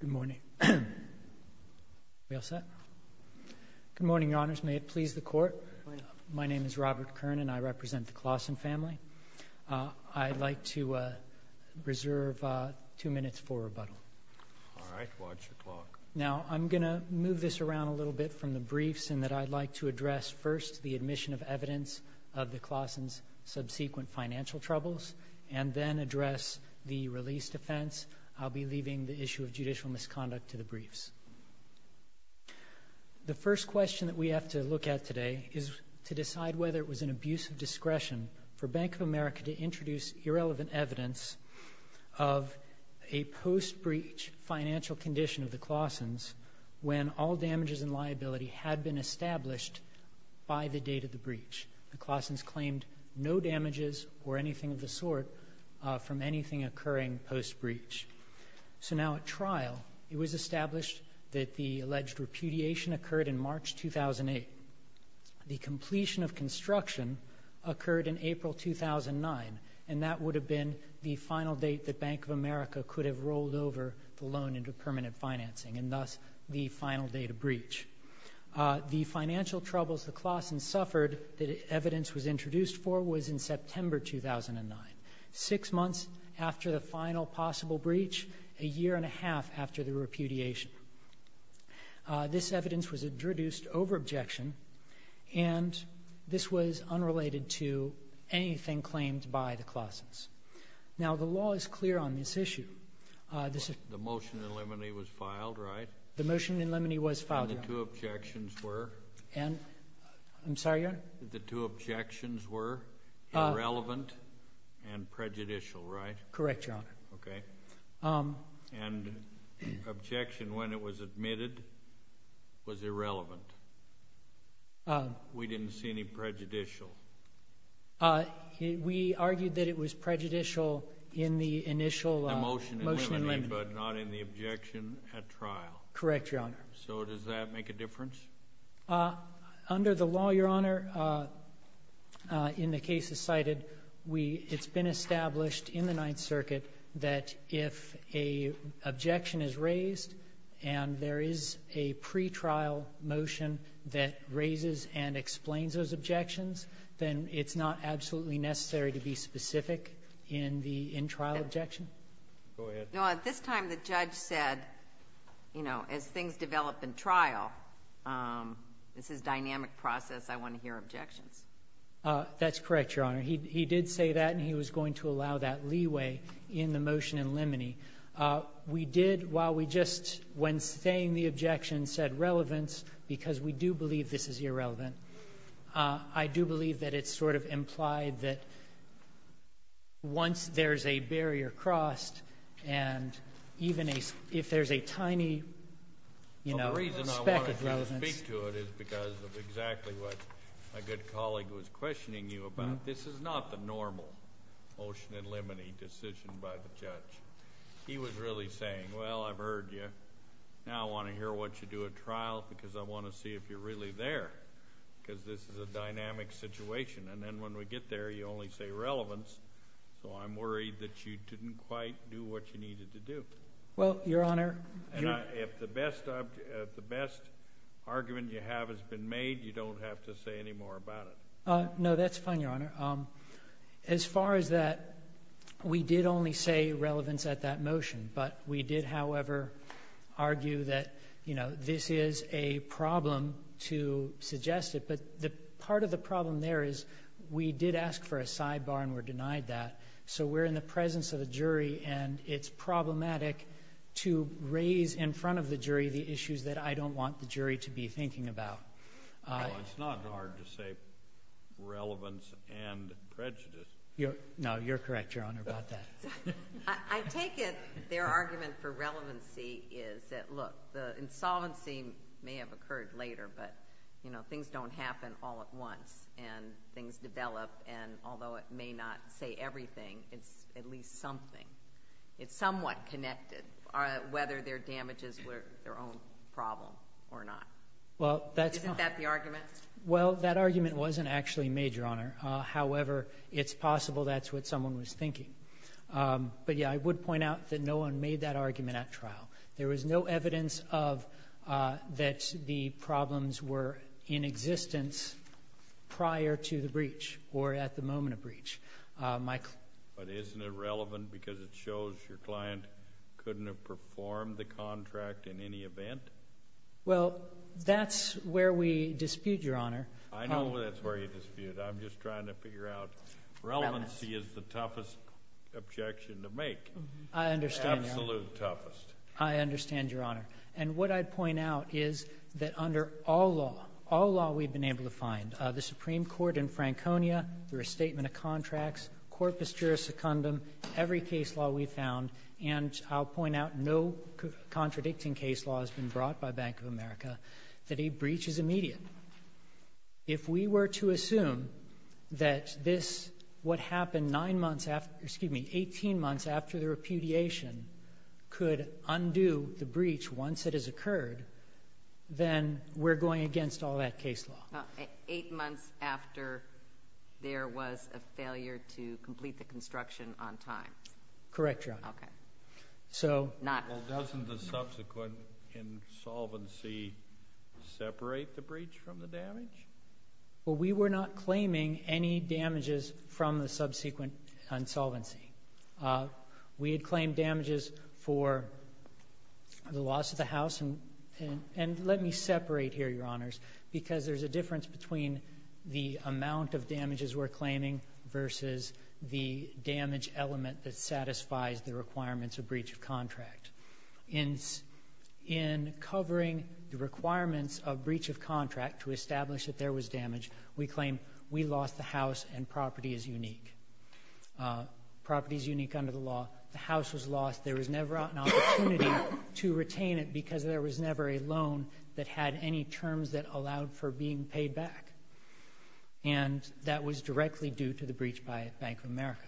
Good morning. We all set? Good morning, Your Honors. May it please the Court, my name is Robert Kern and I represent the Closson family. I'd like to reserve two minutes for rebuttal. All right, watch the clock. Now, I'm going to move this around a little bit from the briefs in that I'd like to address first the admission of evidence of the Closson's subsequent financial troubles and then address the release defense. I'll be leaving the issue of judicial misconduct to the briefs. The first question that we have to look at today is to decide whether it was an abuse of discretion for Bank of America to introduce irrelevant evidence of a post-breach financial condition of the Closson's when all damages and liability had been established by the date of the breach. The Closson's claimed no damages or anything of the sort from anything occurring post-breach. So now at trial, it was established that the alleged repudiation occurred in March 2008. The completion of construction occurred in April 2009 and that would have been the final date that Bank of America could have rolled over the loan into permanent financing and thus the final date of breach. The financial troubles the Closson's suffered that evidence was introduced for was in September 2009, six months after the final possible breach, a year and a half after the repudiation. This evidence was introduced over objection and this was unrelated to anything claimed by the Closson's. Now the law is clear on this issue. The motion in limine was filed, right? The motion in limine was filed, Your Honor. And the two objections were? I'm sorry, Your Honor? The two objections were irrelevant and prejudicial, right? Correct, Your Honor. And objection when it was admitted was irrelevant. We didn't see any prejudicial. We argued that it was prejudicial in the initial motion in limine. The motion in limine, but not in the objection at trial. Correct, Your Honor. So does that make a difference? Under the law, Your Honor, in the cases cited, we — it's been established in the Ninth Circuit that if an objection is raised and there is a pretrial motion that raises and explains those objections, then it's not absolutely necessary to be specific in the in-trial objection. Go ahead. No, at this time the judge said, you know, as things develop in trial, this is dynamic process, I want to hear objections. That's correct, Your Honor. He did say that and he was going to allow that leeway in the motion in limine. We did, while we just, when saying the objection, said relevance, because we do believe this is irrelevant, I do believe that it's sort of implied that once there's a barrier crossed and even if there's a tiny, you know, speck of relevance. Well, the reason I wanted to speak to it is because of exactly what my good colleague was questioning you about. This is not the normal motion in limine decision by the judge. He was really saying, well, I've heard you. Now I want to hear what you do at trial because I want to see if you're really there, because this is a dynamic situation. And then when we get there, you only say relevance, so I'm worried that you didn't quite do what you needed to do. Well, Your Honor. And if the best argument you have has been made, you don't have to say any more about it. No, that's fine, Your Honor. As far as that, we did only say relevance at that motion, but we did, however, argue that, you know, this is a problem to suggest it. But the part of the problem there is we did ask for a sidebar and were denied that. So we're in the presence of a jury and it's problematic to raise in front of the jury the issues that I don't want the jury to be thinking about. No, it's not hard to say relevance and prejudice. No, you're correct, Your Honor, about that. I take it their argument for relevancy is that, look, the insolvency may have occurred later, but, you know, things don't happen all at once and things develop. And although it may not say everything, it's at least something. It's somewhat connected, whether their damages were their own problem or not. Well, that's not the argument. Well, that argument wasn't actually made, Your Honor. However, it's possible that's what someone was thinking. But, yeah, I would point out that no one made that argument at trial. There was no evidence of that the problems were in existence prior to the breach or at the moment of breach. Michael? But isn't it relevant because it shows your client couldn't have performed the contract in any event? Well, that's where we dispute, Your Honor. I know that's where you dispute. I'm just trying to figure out relevancy is the toughest objection to make. Absolute toughest. I understand, Your Honor. And what I'd point out is that under all law, all law we've been able to find, the Supreme Court in Franconia, through a statement of contracts, corpus juris secundum, every case law we found, and I'll point out no contradicting case law has been brought by Bank of America, that a breach is immediate. If we were to assume that this, what happened nine months after, excuse me, 18 months after the repudiation could undo the breach once it has occurred, then we're going against all that case law. Eight months after there was a failure to complete the construction on time. Correct, Your Honor. Okay. So... Well, doesn't the subsequent insolvency separate the breach from the damage? Well, we were not claiming any damages from the subsequent insolvency. We had claimed damages for the loss of the house, and let me separate here, Your Honors, because there's a difference between the amount of damages we're claiming versus the damage element that satisfies the requirements of breach of contract. In covering the requirements of breach of contract to establish that there was damage, we claim we lost the house and property is unique. Property is unique under the law. The house was lost. There was never an opportunity to retain it because there was never a loan that had any terms that allowed for being paid back, and that was directly due to the breach by Bank of America.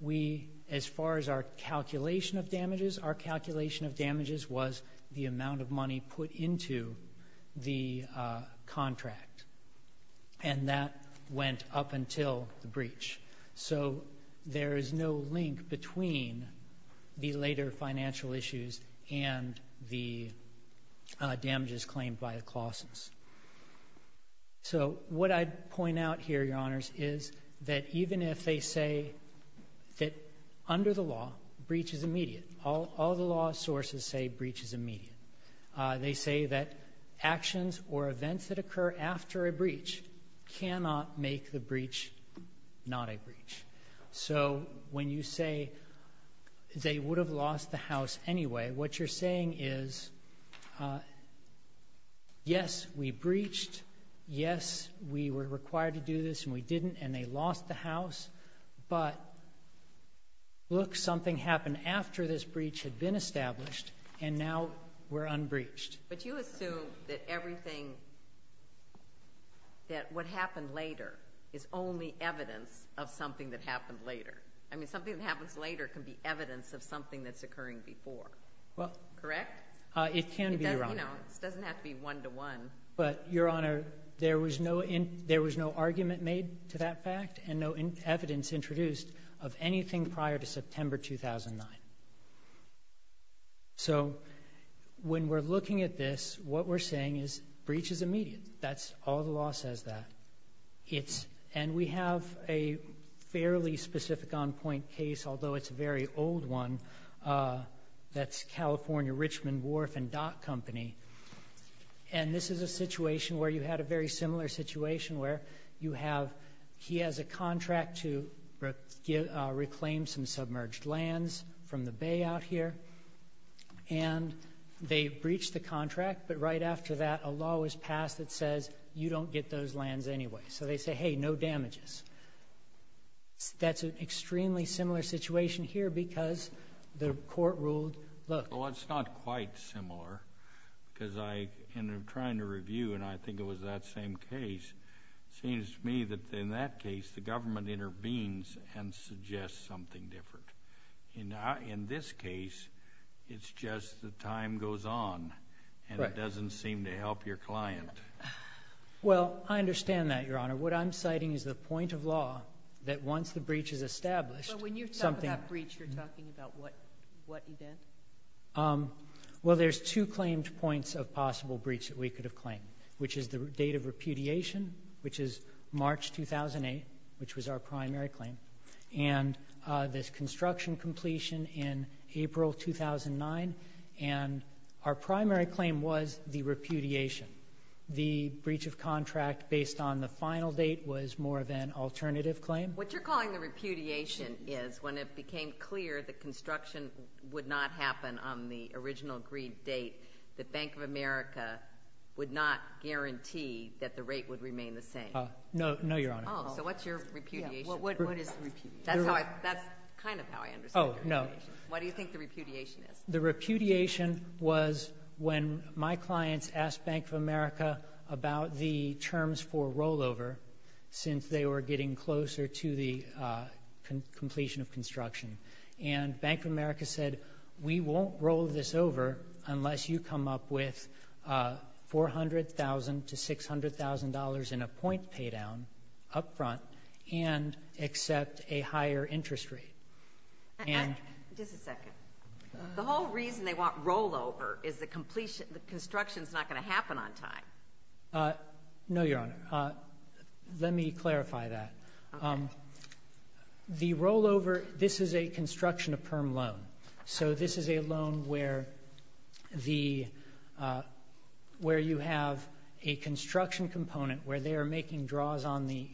We, as far as our calculation of damages, our calculation of damages was the amount of money put into the contract, and that went up until the breach. So there is no link between the later financial issues and the damages that were incurred or damages claimed by the Claussons. So what I'd point out here, Your Honors, is that even if they say that under the law, breach is immediate, all the law sources say breach is immediate, they say that actions or events that occur after a breach cannot make the breach not a breach. So when you say they would have lost the house anyway, what you're saying is, yes, we breached, yes, we were required to do this and we didn't and they lost the house, but look, something happened after this breach had been established and now we're unbreached. But you assume that everything, that what happened later is only evidence of something that happened later. I mean, something that happens later can be evidence of something that's occurring before. Correct? It can be, Your Honor. It doesn't have to be one-to-one. But Your Honor, there was no argument made to that fact and no evidence introduced of anything prior to September 2009. So when we're looking at this, what we're saying is breach is immediate. That's all the law says that. And we have a fairly specific on-point case, although it's a very old one, that's California Richmond Wharf and Dock Company. And this is a situation where you had a very similar situation where you have, he has a contract to reclaim some submerged lands from the bay out here, and they breached the contract, but right after that a law was passed that says you don't get those lands anyway. So they say, hey, no damages. That's an extremely similar situation here because the court ruled, look. Well, it's not quite similar because I, in trying to review, and I think it was that same case, it seems to me that in that case the government intervenes and suggests something different. In this case, it's just the time goes on and it doesn't seem to help your client. Well, I understand that, Your Honor. What I'm citing is the point of law that once the breach is established, something — But when you talk about breach, you're talking about what event? Well, there's two claimed points of possible breach that we could have claimed, which is the date of repudiation, which is March 2008, which was our primary claim, and this construction completion in April 2009. And our primary claim was the repudiation. The breach of contract based on the final date was more of an alternative claim. What you're calling the repudiation is when it became clear the construction would not happen on the original agreed date, the Bank of America would not guarantee that the rate would remain the same. No, Your Honor. Oh, so what's your repudiation? Yeah, what is repudiation? That's kind of how I understand repudiation. Oh, no. What do you think the repudiation is? The repudiation was when my clients asked Bank of America about the terms for rollover since they were getting closer to the completion of construction. And Bank of America said, we won't roll this over unless you come up with $400,000 to $600,000 in a point paydown up front and accept a higher interest rate. Just a second. The whole reason they want rollover is the construction is not going to happen on time. No, Your Honor. Let me clarify that. The rollover, this is a construction of PERM loan. So this is a loan where you have a construction component where they are making draws on the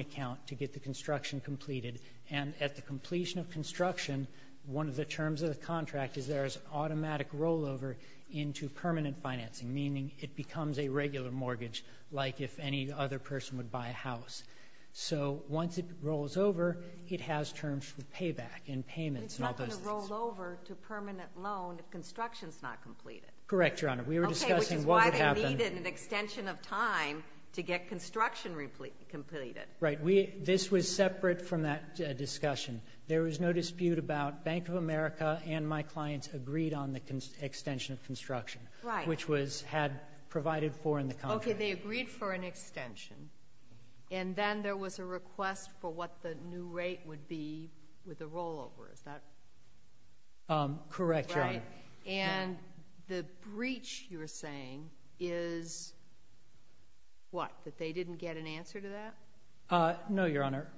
account to get the construction completed. And at the completion of construction, one of the terms of the contract is there is automatic rollover into permanent financing, meaning it becomes a regular mortgage, like if any other person would buy a house. So once it rolls over, it has terms for payback and payments and all those things. But it's not going to rollover to permanent loan if construction is not completed. Correct, Your Honor. We were discussing what would happen... Okay, which is why they needed an extension of time to get construction completed. This was separate from that discussion. There was no dispute about Bank of America and my clients agreed on the extension of construction, which was had provided for in the contract. Okay, they agreed for an extension. And then there was a request for what the new rate would be with the rollover. Is that... Correct, Your Honor. And the breach, you were saying, is what? That they didn't get an answer to that? No, Your Honor.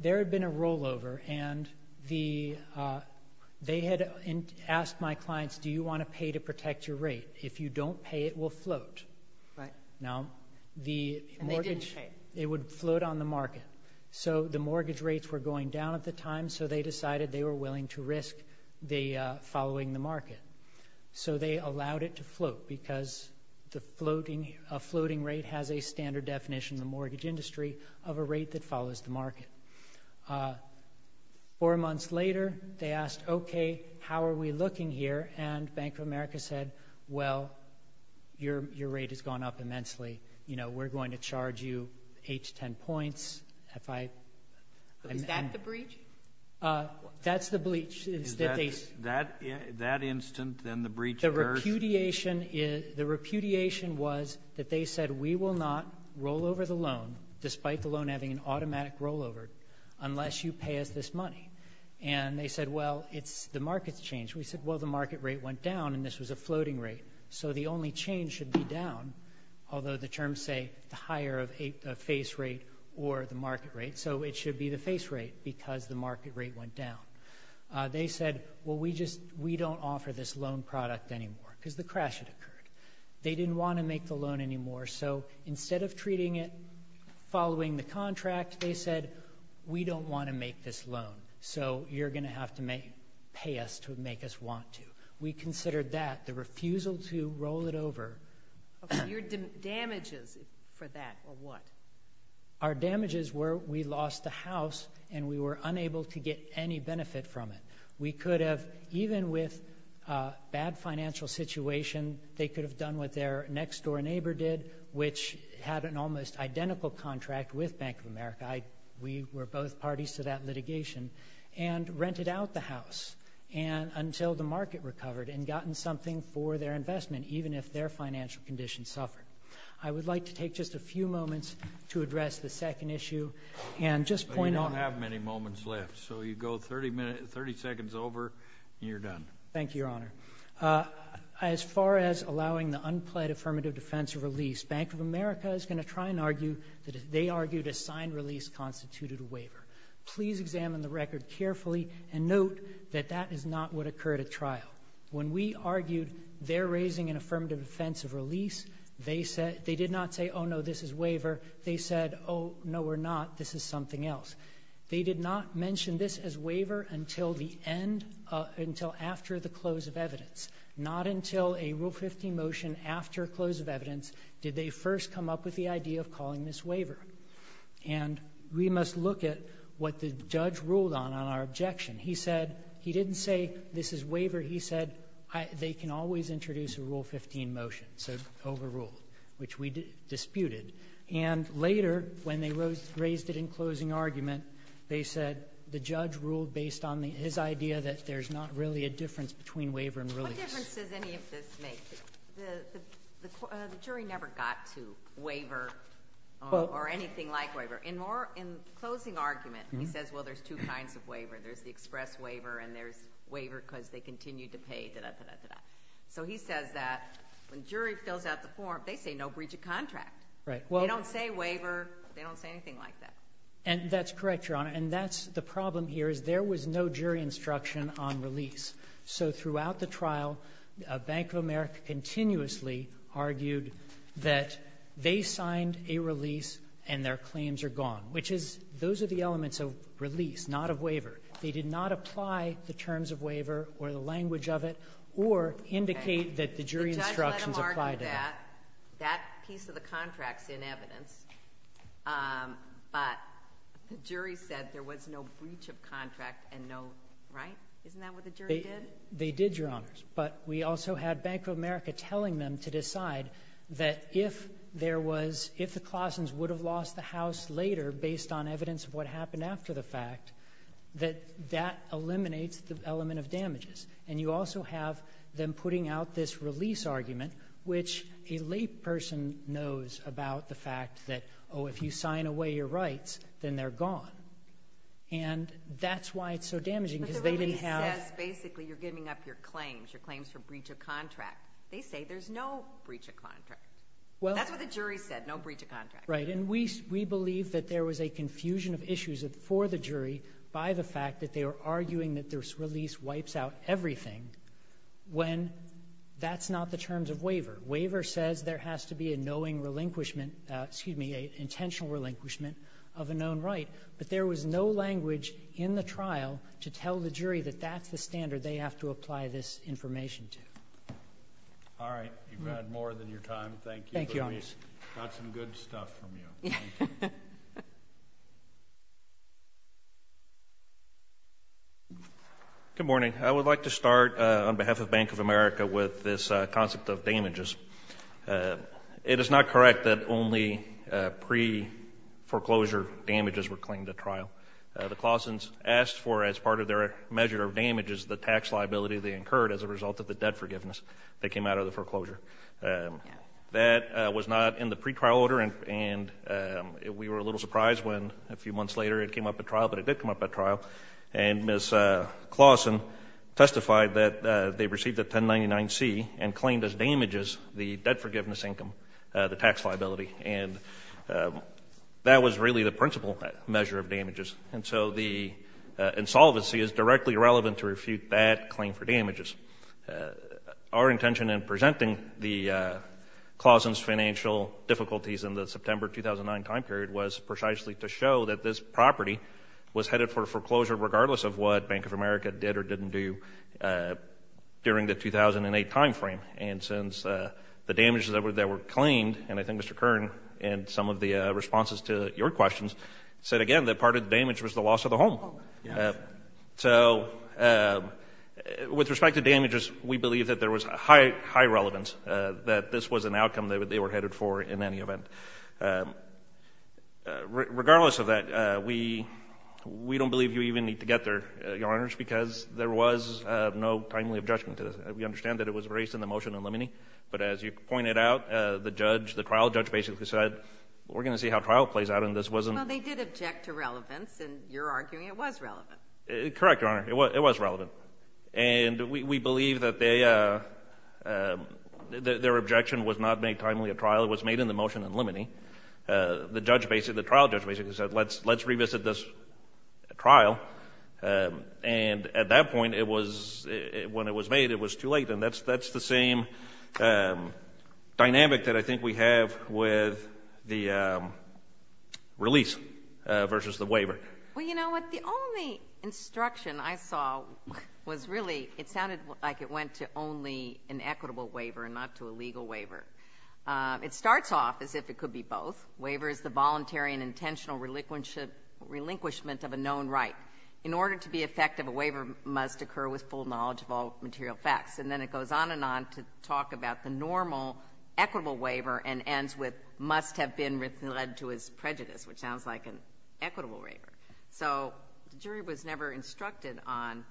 There had been a rollover and they had asked my clients, do you want to pay to protect your rate? If you don't pay, it will float. Right. And they didn't pay. It would float on the market. So the mortgage rates were going down at the time, so they decided they were willing to risk following the market. So they allowed it to float because a floating rate has a standard definition in the mortgage industry of a rate that follows the market. Four months later, they asked, okay, how are we looking here? And Bank of America said, well, your rate has gone up immensely. We're going to charge you eight to ten points. Is that the breach? That's the breach. Is that instant, then the breach occurs? The repudiation was that they said we will not rollover the loan, despite the loan having an automatic rollover, unless you pay us this money. And they said, well, the market's changed. We said, well, the market rate went down and this was a floating rate, so the only change should be down, although the terms say the higher of a face rate or the market rate, so it should be the face rate because the market rate went down. They said, well, we don't offer this loan product anymore because the crash had occurred. They didn't want to make the loan anymore, so instead of treating it following the contract, they said, we don't want to make this loan, so you're going to have to pay us to make us want to. We considered that, the refusal to roll it over. Your damages for that were what? Our damages were we lost the house and we were unable to get any benefit from it. We could have, even with a bad financial situation, they could have done what their next-door neighbor did, which had an almost identical contract with Bank of America. We were both gotten something for their investment, even if their financial condition suffered. I would like to take just a few moments to address the second issue and just point out. But you don't have many moments left, so you go 30 seconds over and you're done. Thank you, Your Honor. As far as allowing the unpled affirmative defense of release, Bank of America is going to try and argue that they argued a signed release constituted a waiver. Please examine the record carefully and note that that is not what occurred at trial. When we argued they're raising an affirmative defense of release, they did not say, oh, no, this is waiver. They said, oh, no, we're not. This is something else. They did not mention this as waiver until the end, until after the close of evidence. Not until a Rule 15 motion after close of evidence did they first come up with the idea of calling this waiver. And we must look at what the judge ruled on on our objection. He said he didn't say this is waiver. He said they can always introduce a Rule 15 motion, so overruled, which we disputed. And later, when they raised it in closing argument, they said the judge ruled based on his idea that there's not really a difference between waiver and release. What difference does any of this make? The jury never got to waiver or anything like waiver. There's the express waiver and there's waiver because they continue to pay, da-da-da-da-da. So he says that when jury fills out the form, they say no breach of contract. They don't say waiver. They don't say anything like that. And that's correct, Your Honor. And that's the problem here is there was no jury instruction on release. So throughout the trial, Bank of America continuously argued that they signed a release and their claims are gone, which is those are the elements of release, not of waiver. They did not apply the terms of waiver or the language of it or indicate that the jury instructions apply to that. The judge let them argue that. That piece of the contract's in evidence. But the jury said there was no breach of contract and no right. Isn't that what the jury did? They did, Your Honors. But we also had Bank of America telling them to decide that if there was — if the Claussens would have lost the house later based on evidence of what happened after the fact, that that eliminates the element of damages. And you also have them putting out this release argument, which a layperson knows about the fact that, oh, if you sign away your rights, then they're gone. And that's why it's so damaging, because they didn't have — But the release says basically you're giving up your claims, your claims for breach of contract. They say there's no breach of contract. That's what the jury said, no breach of contract. Right. And we believe that there was a confusion of issues for the jury by the fact that they were arguing that this release wipes out everything when that's not the terms of waiver. Waiver says there has to be a knowing relinquishment — excuse me, an intentional relinquishment of a known right. But there was no language in the trial to tell the jury that that's the standard they have to apply this information to. All right. You've had more than your time. Thank you. Thank you, Your Honors. Got some good stuff from you. Good morning. I would like to start on behalf of Bank of America with this concept of damages. It is not correct that only pre-foreclosure damages were claimed at trial. The Claussens asked for, as part of their measure of damages, the tax liability they incurred as a result of the debt forgiveness that came out of the foreclosure. That was not in the pretrial order, and we were a little surprised when a few months later it came up at trial, but it did come up at trial. And Ms. Claussen testified that they received a 1099-C and claimed as damages the debt forgiveness income, the tax liability. And that was really the principal measure of damages. And so the insolvency is directly relevant to refute that claim for damages. Our intention in presenting the Claussens financial difficulties in the September 2009 time period was precisely to show that this property was headed for foreclosure regardless of what Bank of America did or didn't do during the 2008 time frame. And since the damages that were claimed, and I think Mr. Kern, in some of the responses to your questions, said again that part of the damage was the loss of the home. So with respect to damages, we believe that there was high relevance that this was an outcome that they were headed for in any event. Regardless of that, we don't believe you even need to get there, Your Honors, because there was no timely objection to this. We understand that it was raised in the motion in limine, but as you pointed out, the judge, the trial judge basically said we're going to see how trial plays out and this wasn't. Well, they did object to relevance and you're arguing it was relevant. Correct, Your Honor. It was relevant. And we believe that their objection was not made timely at trial. It was made in the motion in limine. The trial judge basically said let's revisit this trial. And at that point, when it was made, it was too late. And that's the same dynamic that I think we have with the release versus the waiver. Well, you know what? The only instruction I saw was really it sounded like it went to only an equitable waiver and not to a legal waiver. It starts off as if it could be both. Waiver is the voluntary and intentional relinquishment of a known right. In order to be effective, a waiver must occur with full knowledge of all material facts. And then it goes on and on to talk about the normal equitable waiver and ends with must have been led to as prejudice, which sounds like an equitable waiver. So the jury was never instructed on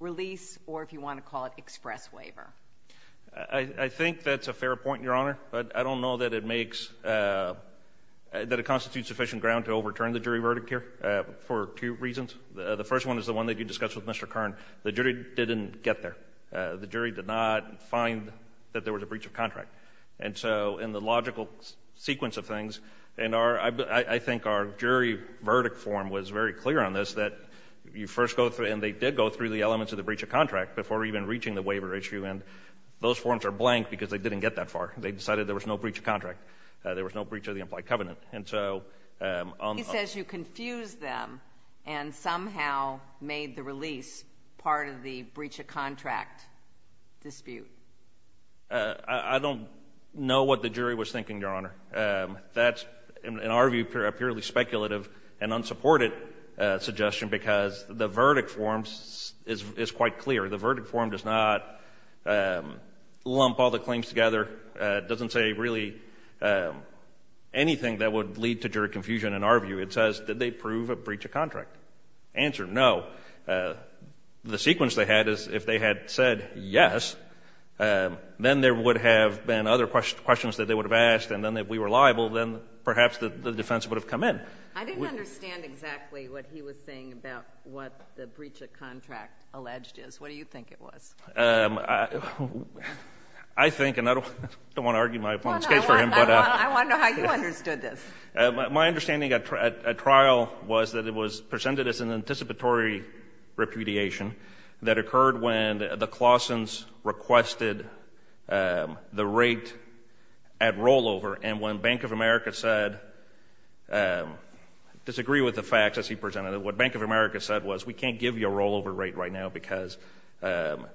release or, if you want to call it, express waiver. I think that's a fair point, Your Honor, but I don't know that it makes – that it constitutes sufficient ground to overturn the jury verdict here for two reasons. The first one is the one that you discussed with Mr. Kern. The jury didn't get there. The jury did not find that there was a breach of contract. And so in the logical sequence of things – and I think our jury verdict form was very clear on this, that you first go through – and they did go through the elements of the breach of contract before even reaching the waiver issue. And those forms are blank because they didn't get that far. They decided there was no breach of contract. There was no breach of the implied covenant. And so – He says you confused them and somehow made the release part of the breach of contract dispute. I don't know what the jury was thinking, Your Honor. That's, in our view, a purely speculative and unsupported suggestion because the verdict form is quite clear. The verdict form does not lump all the claims together, doesn't say really anything that would lead to jury confusion in our view. It says, did they prove a breach of contract? Answer, no. The sequence they had is if they had said yes, then there would have been other questions that they would have asked, and then if we were liable, then perhaps the defense would have come in. I didn't understand exactly what he was saying about what the breach of contract alleged is. What do you think it was? I think – and I don't want to argue my opponent's case for him. I want to know how you understood this. My understanding at trial was that it was presented as an anticipatory repudiation that occurred when the Claussens requested the rate at rollover, and when Bank of America said – disagree with the facts as he presented it. What Bank of America said was we can't give you a rollover rate right now because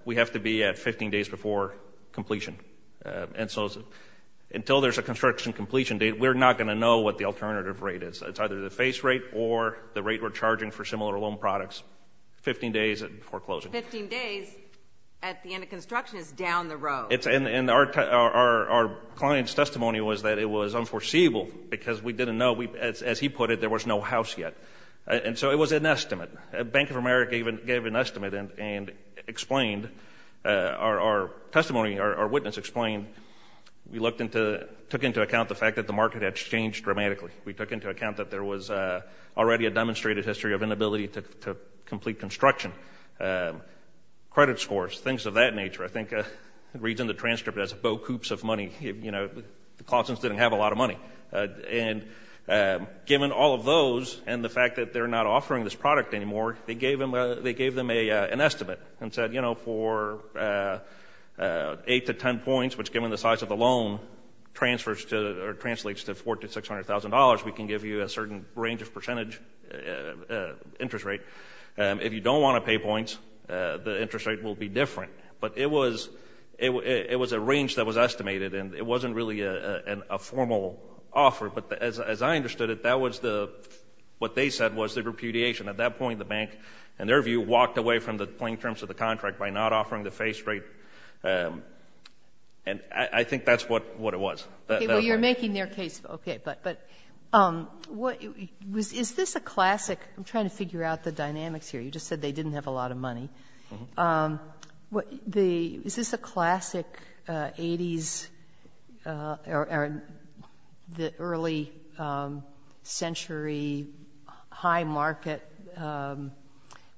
we have to be at 15 days before completion. And so until there's a construction completion date, we're not going to know what the alternative rate is. It's either the face rate or the rate we're charging for similar loan products 15 days before closing. Fifteen days at the end of construction is down the road. And our client's testimony was that it was unforeseeable because we didn't know. As he put it, there was no house yet. And so it was an estimate. Bank of America gave an estimate and explained – our testimony, our witness explained we looked into – took into account the fact that the market had changed dramatically. We took into account that there was already a demonstrated history of inability to complete construction, credit scores, things of that nature. I think it reads in the transcript as a boat coops of money. You know, the Claussens didn't have a lot of money. And given all of those and the fact that they're not offering this product anymore, they gave them an estimate and said, you know, for 8 to 10 points, which given the size of the loan transfers to – or translates to $400,000 to $600,000, we can give you a certain range of percentage interest rate. If you don't want to pay points, the interest rate will be different. But it was a range that was estimated and it wasn't really a formal offer. But as I understood it, that was the – what they said was the repudiation. At that point, the bank, in their view, walked away from the plain terms of the contract by not offering the face rate. And I think that's what it was. Okay. Well, you're making their case. Okay. But is this a classic – I'm trying to figure out the dynamics here. You just said they didn't have a lot of money. Is this a classic 80s or early century high market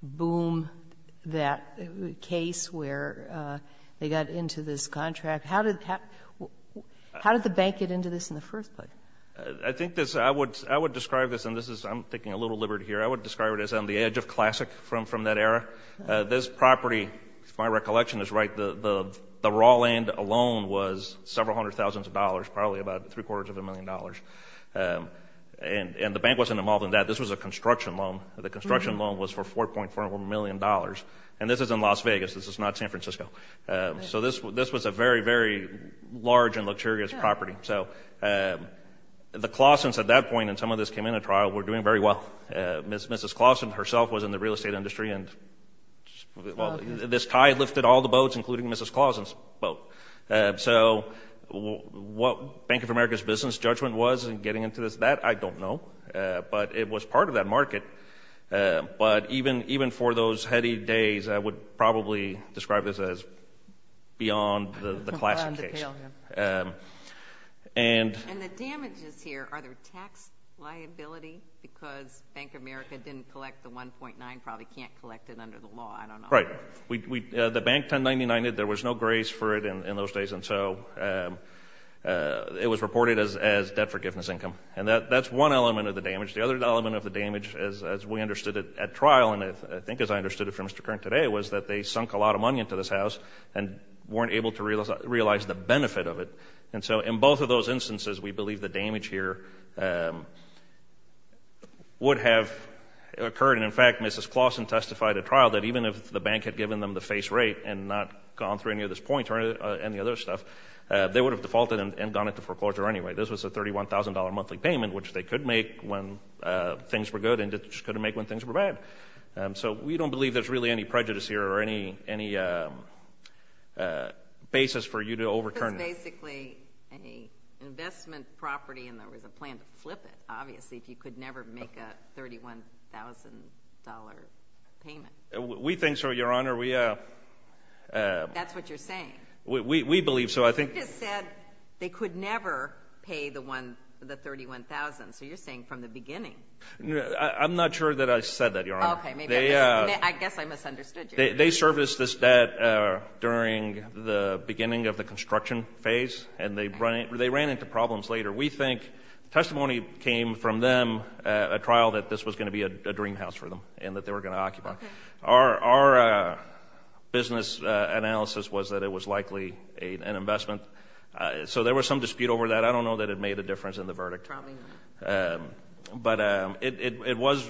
boom, that case where they got into this contract? How did the bank get into this in the first place? I think this – I would describe this, and this is – I'm taking a little liberty here. I would describe it as on the edge of classic from that era. This property, if my recollection is right, the raw land alone was several hundred thousands of dollars, probably about three-quarters of a million dollars. And the bank wasn't involved in that. This was a construction loan. The construction loan was for $4.4 million. And this is in Las Vegas. This is not San Francisco. So this was a very, very large and luxurious property. So the Claussons at that point, and some of this came in at trial, were doing very well. Mrs. Clausson herself was in the real estate industry, and this tie lifted all the boats, including Mrs. Clausson's boat. So what Bank of America's business judgment was in getting into this, that I don't know. But it was part of that market. But even for those heady days, I would probably describe this as beyond the classic case. And the damages here, are there tax liability? Because Bank of America didn't collect the 1.9, probably can't collect it under the law, I don't know. Right. The bank 1099-ed. There was no grace for it in those days. And so it was reported as debt forgiveness income. And that's one element of the damage. The other element of the damage, as we understood it at trial, and I think as I understood it from Mr. Kern today, was that they sunk a lot of money into this house and weren't able to realize the benefit of it. And so in both of those instances, we believe the damage here would have occurred. And, in fact, Mrs. Clausson testified at trial that even if the bank had given them the face rate and not gone through any of this point or any other stuff, they would have defaulted and gone into foreclosure anyway. This was a $31,000 monthly payment, which they could make when things were good, and just couldn't make when things were bad. So we don't believe there's really any prejudice here or any basis for you to overturn. It was basically an investment property, and there was a plan to flip it, obviously, if you could never make a $31,000 payment. We think so, Your Honor. That's what you're saying. We believe so. You just said they could never pay the $31,000. So you're saying from the beginning. I'm not sure that I said that, Your Honor. I guess I misunderstood you. They serviced this debt during the beginning of the construction phase, and they ran into problems later. We think testimony came from them at trial that this was going to be a dream house for them and that they were going to occupy. Our business analysis was that it was likely an investment. So there was some dispute over that. I don't know that it made a difference in the verdict. But it was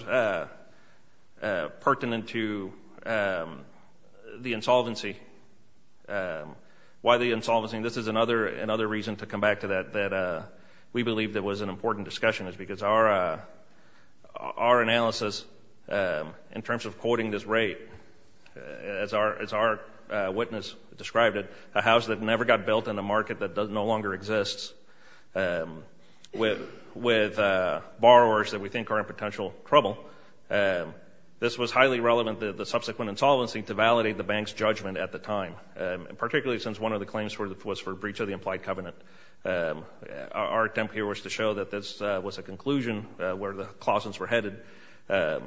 pertinent to the insolvency. Why the insolvency? This is another reason to come back to that, that we believe that was an important discussion, is because our analysis in terms of quoting this rate, as our witness described it, a house that never got built in a market that no longer exists with borrowers that we think are in potential trouble, this was highly relevant to the subsequent insolvency to validate the bank's judgment at the time, particularly since one of the claims was for breach of the implied covenant. Our attempt here was to show that this was a conclusion where the clauses were headed. They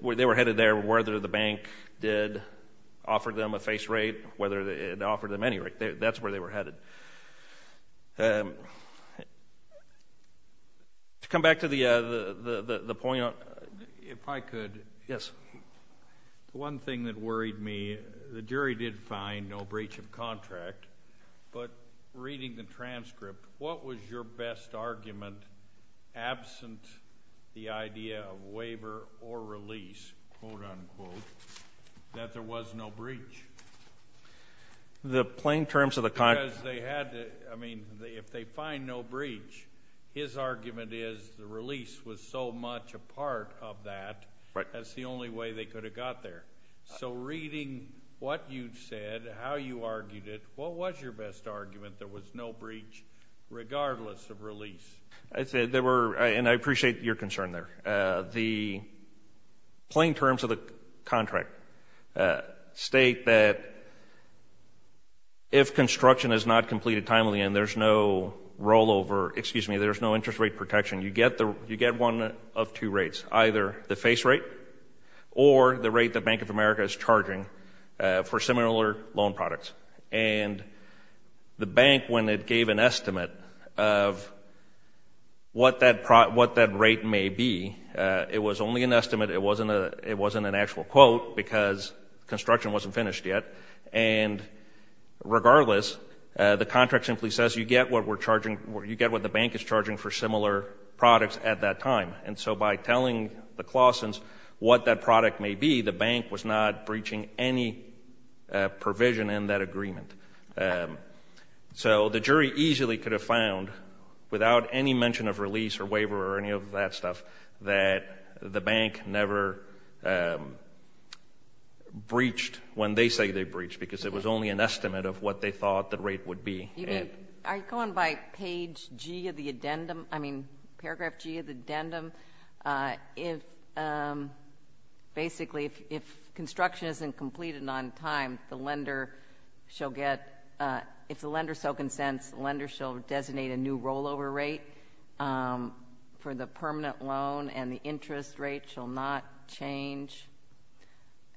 were headed there whether the bank did offer them a face rate, whether it offered them any rate. That's where they were headed. To come back to the point on the one thing that worried me, the jury did find no breach of contract, but reading the transcript, what was your best argument, absent the idea of waiver or release, quote-unquote, that there was no breach? The plain terms of the contract. Because they had to, I mean, if they find no breach, his argument is the release was so much a part of that. Right. That's the only way they could have got there. So reading what you said, how you argued it, what was your best argument, there was no breach, regardless of release? I'd say there were, and I appreciate your concern there. The plain terms of the contract state that if construction is not completed timely and there's no rollover, excuse me, there's no interest rate protection, you get one of two rates, either the face rate or the rate the Bank of America is charging for similar loan products. And the bank, when it gave an estimate of what that rate may be, it was only an estimate. It wasn't an actual quote because construction wasn't finished yet. And regardless, the contract simply says you get what we're charging, you get what the bank is charging for similar products at that time. And so by telling the Claussons what that product may be, the bank was not breaching any provision in that agreement. So the jury easily could have found, without any mention of release or waiver or any of that stuff, that the bank never breached when they say they breached because it was only an estimate of what they thought the rate would be. Are you going by page G of the addendum? I mean, paragraph G of the addendum? Basically, if construction isn't completed on time, the lender shall get ‑‑ if the lender so consents, the lender shall designate a new rollover rate for the permanent loan and the interest rate shall not change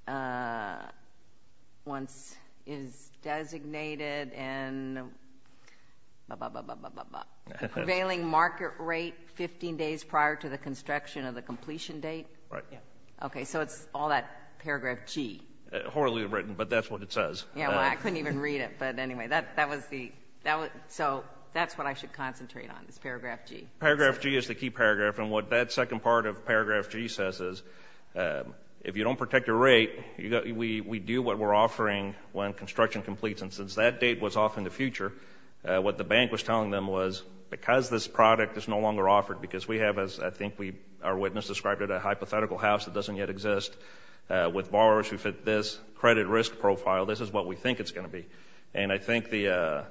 once it is designated and ba, ba, ba, ba, ba, ba, ba. Prevailing market rate 15 days prior to the construction of the completion date? Right. Okay, so it's all that paragraph G. Horribly written, but that's what it says. Yeah, well, I couldn't even read it. But anyway, that was the ‑‑ so that's what I should concentrate on is paragraph G. Paragraph G is the key paragraph, and what that second part of paragraph G says is, if you don't protect your rate, we do what we're offering when construction completes. And since that date was off in the future, what the bank was telling them was, because this product is no longer offered, because we have, as I think our witness described it, a hypothetical house that doesn't yet exist with borrowers who fit this credit risk profile, this is what we think it's going to be. And I think the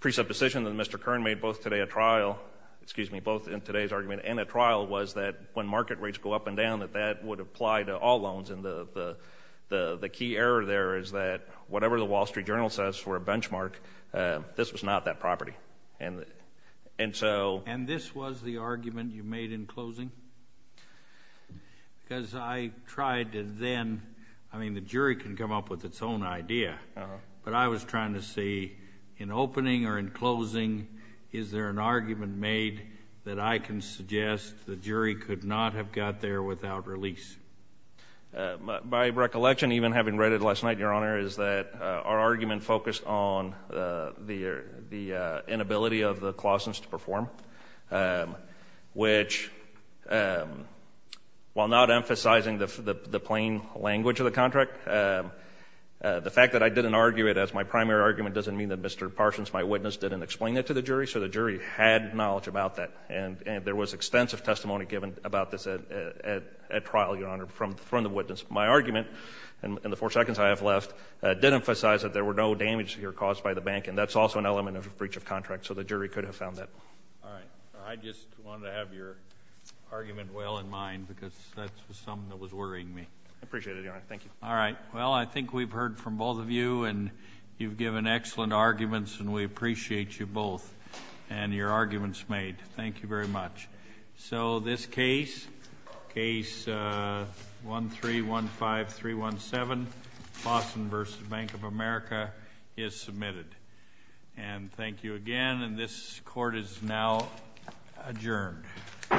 presupposition that Mr. Kern made both today at trial, excuse me, both in today's argument and at trial was that when market rates go up and down, that that would apply to all loans. And the key error there is that whatever the Wall Street Journal says for a benchmark, this was not that property. And so ‑‑ And this was the argument you made in closing? Because I tried to then ‑‑ I mean, the jury can come up with its own idea. But I was trying to see, in opening or in closing, is there an argument made that I can suggest the jury could not have got there without release? My recollection, even having read it last night, Your Honor, is that our argument focused on the inability of the Clausens to perform, which, while not emphasizing the plain language of the contract, the fact that I didn't argue it as my primary argument doesn't mean that Mr. Parsons, my witness, didn't explain it to the jury. So the jury had knowledge about that. And there was extensive testimony given about this at trial, Your Honor, from the witness. My argument, in the four seconds I have left, did emphasize that there were no damages here caused by the bank, and that's also an element of a breach of contract. So the jury could have found that. All right. I just wanted to have your argument well in mind, because that was something that was worrying me. I appreciate it, Your Honor. Thank you. All right. Well, I think we've heard from both of you, and you've given excellent arguments, and we appreciate you both and your arguments made. Thank you very much. So this case, Case 1315317, Clausen v. Bank of America, is submitted. And thank you again. And this court is now adjourned. All rise. The court for this session stands adjourned.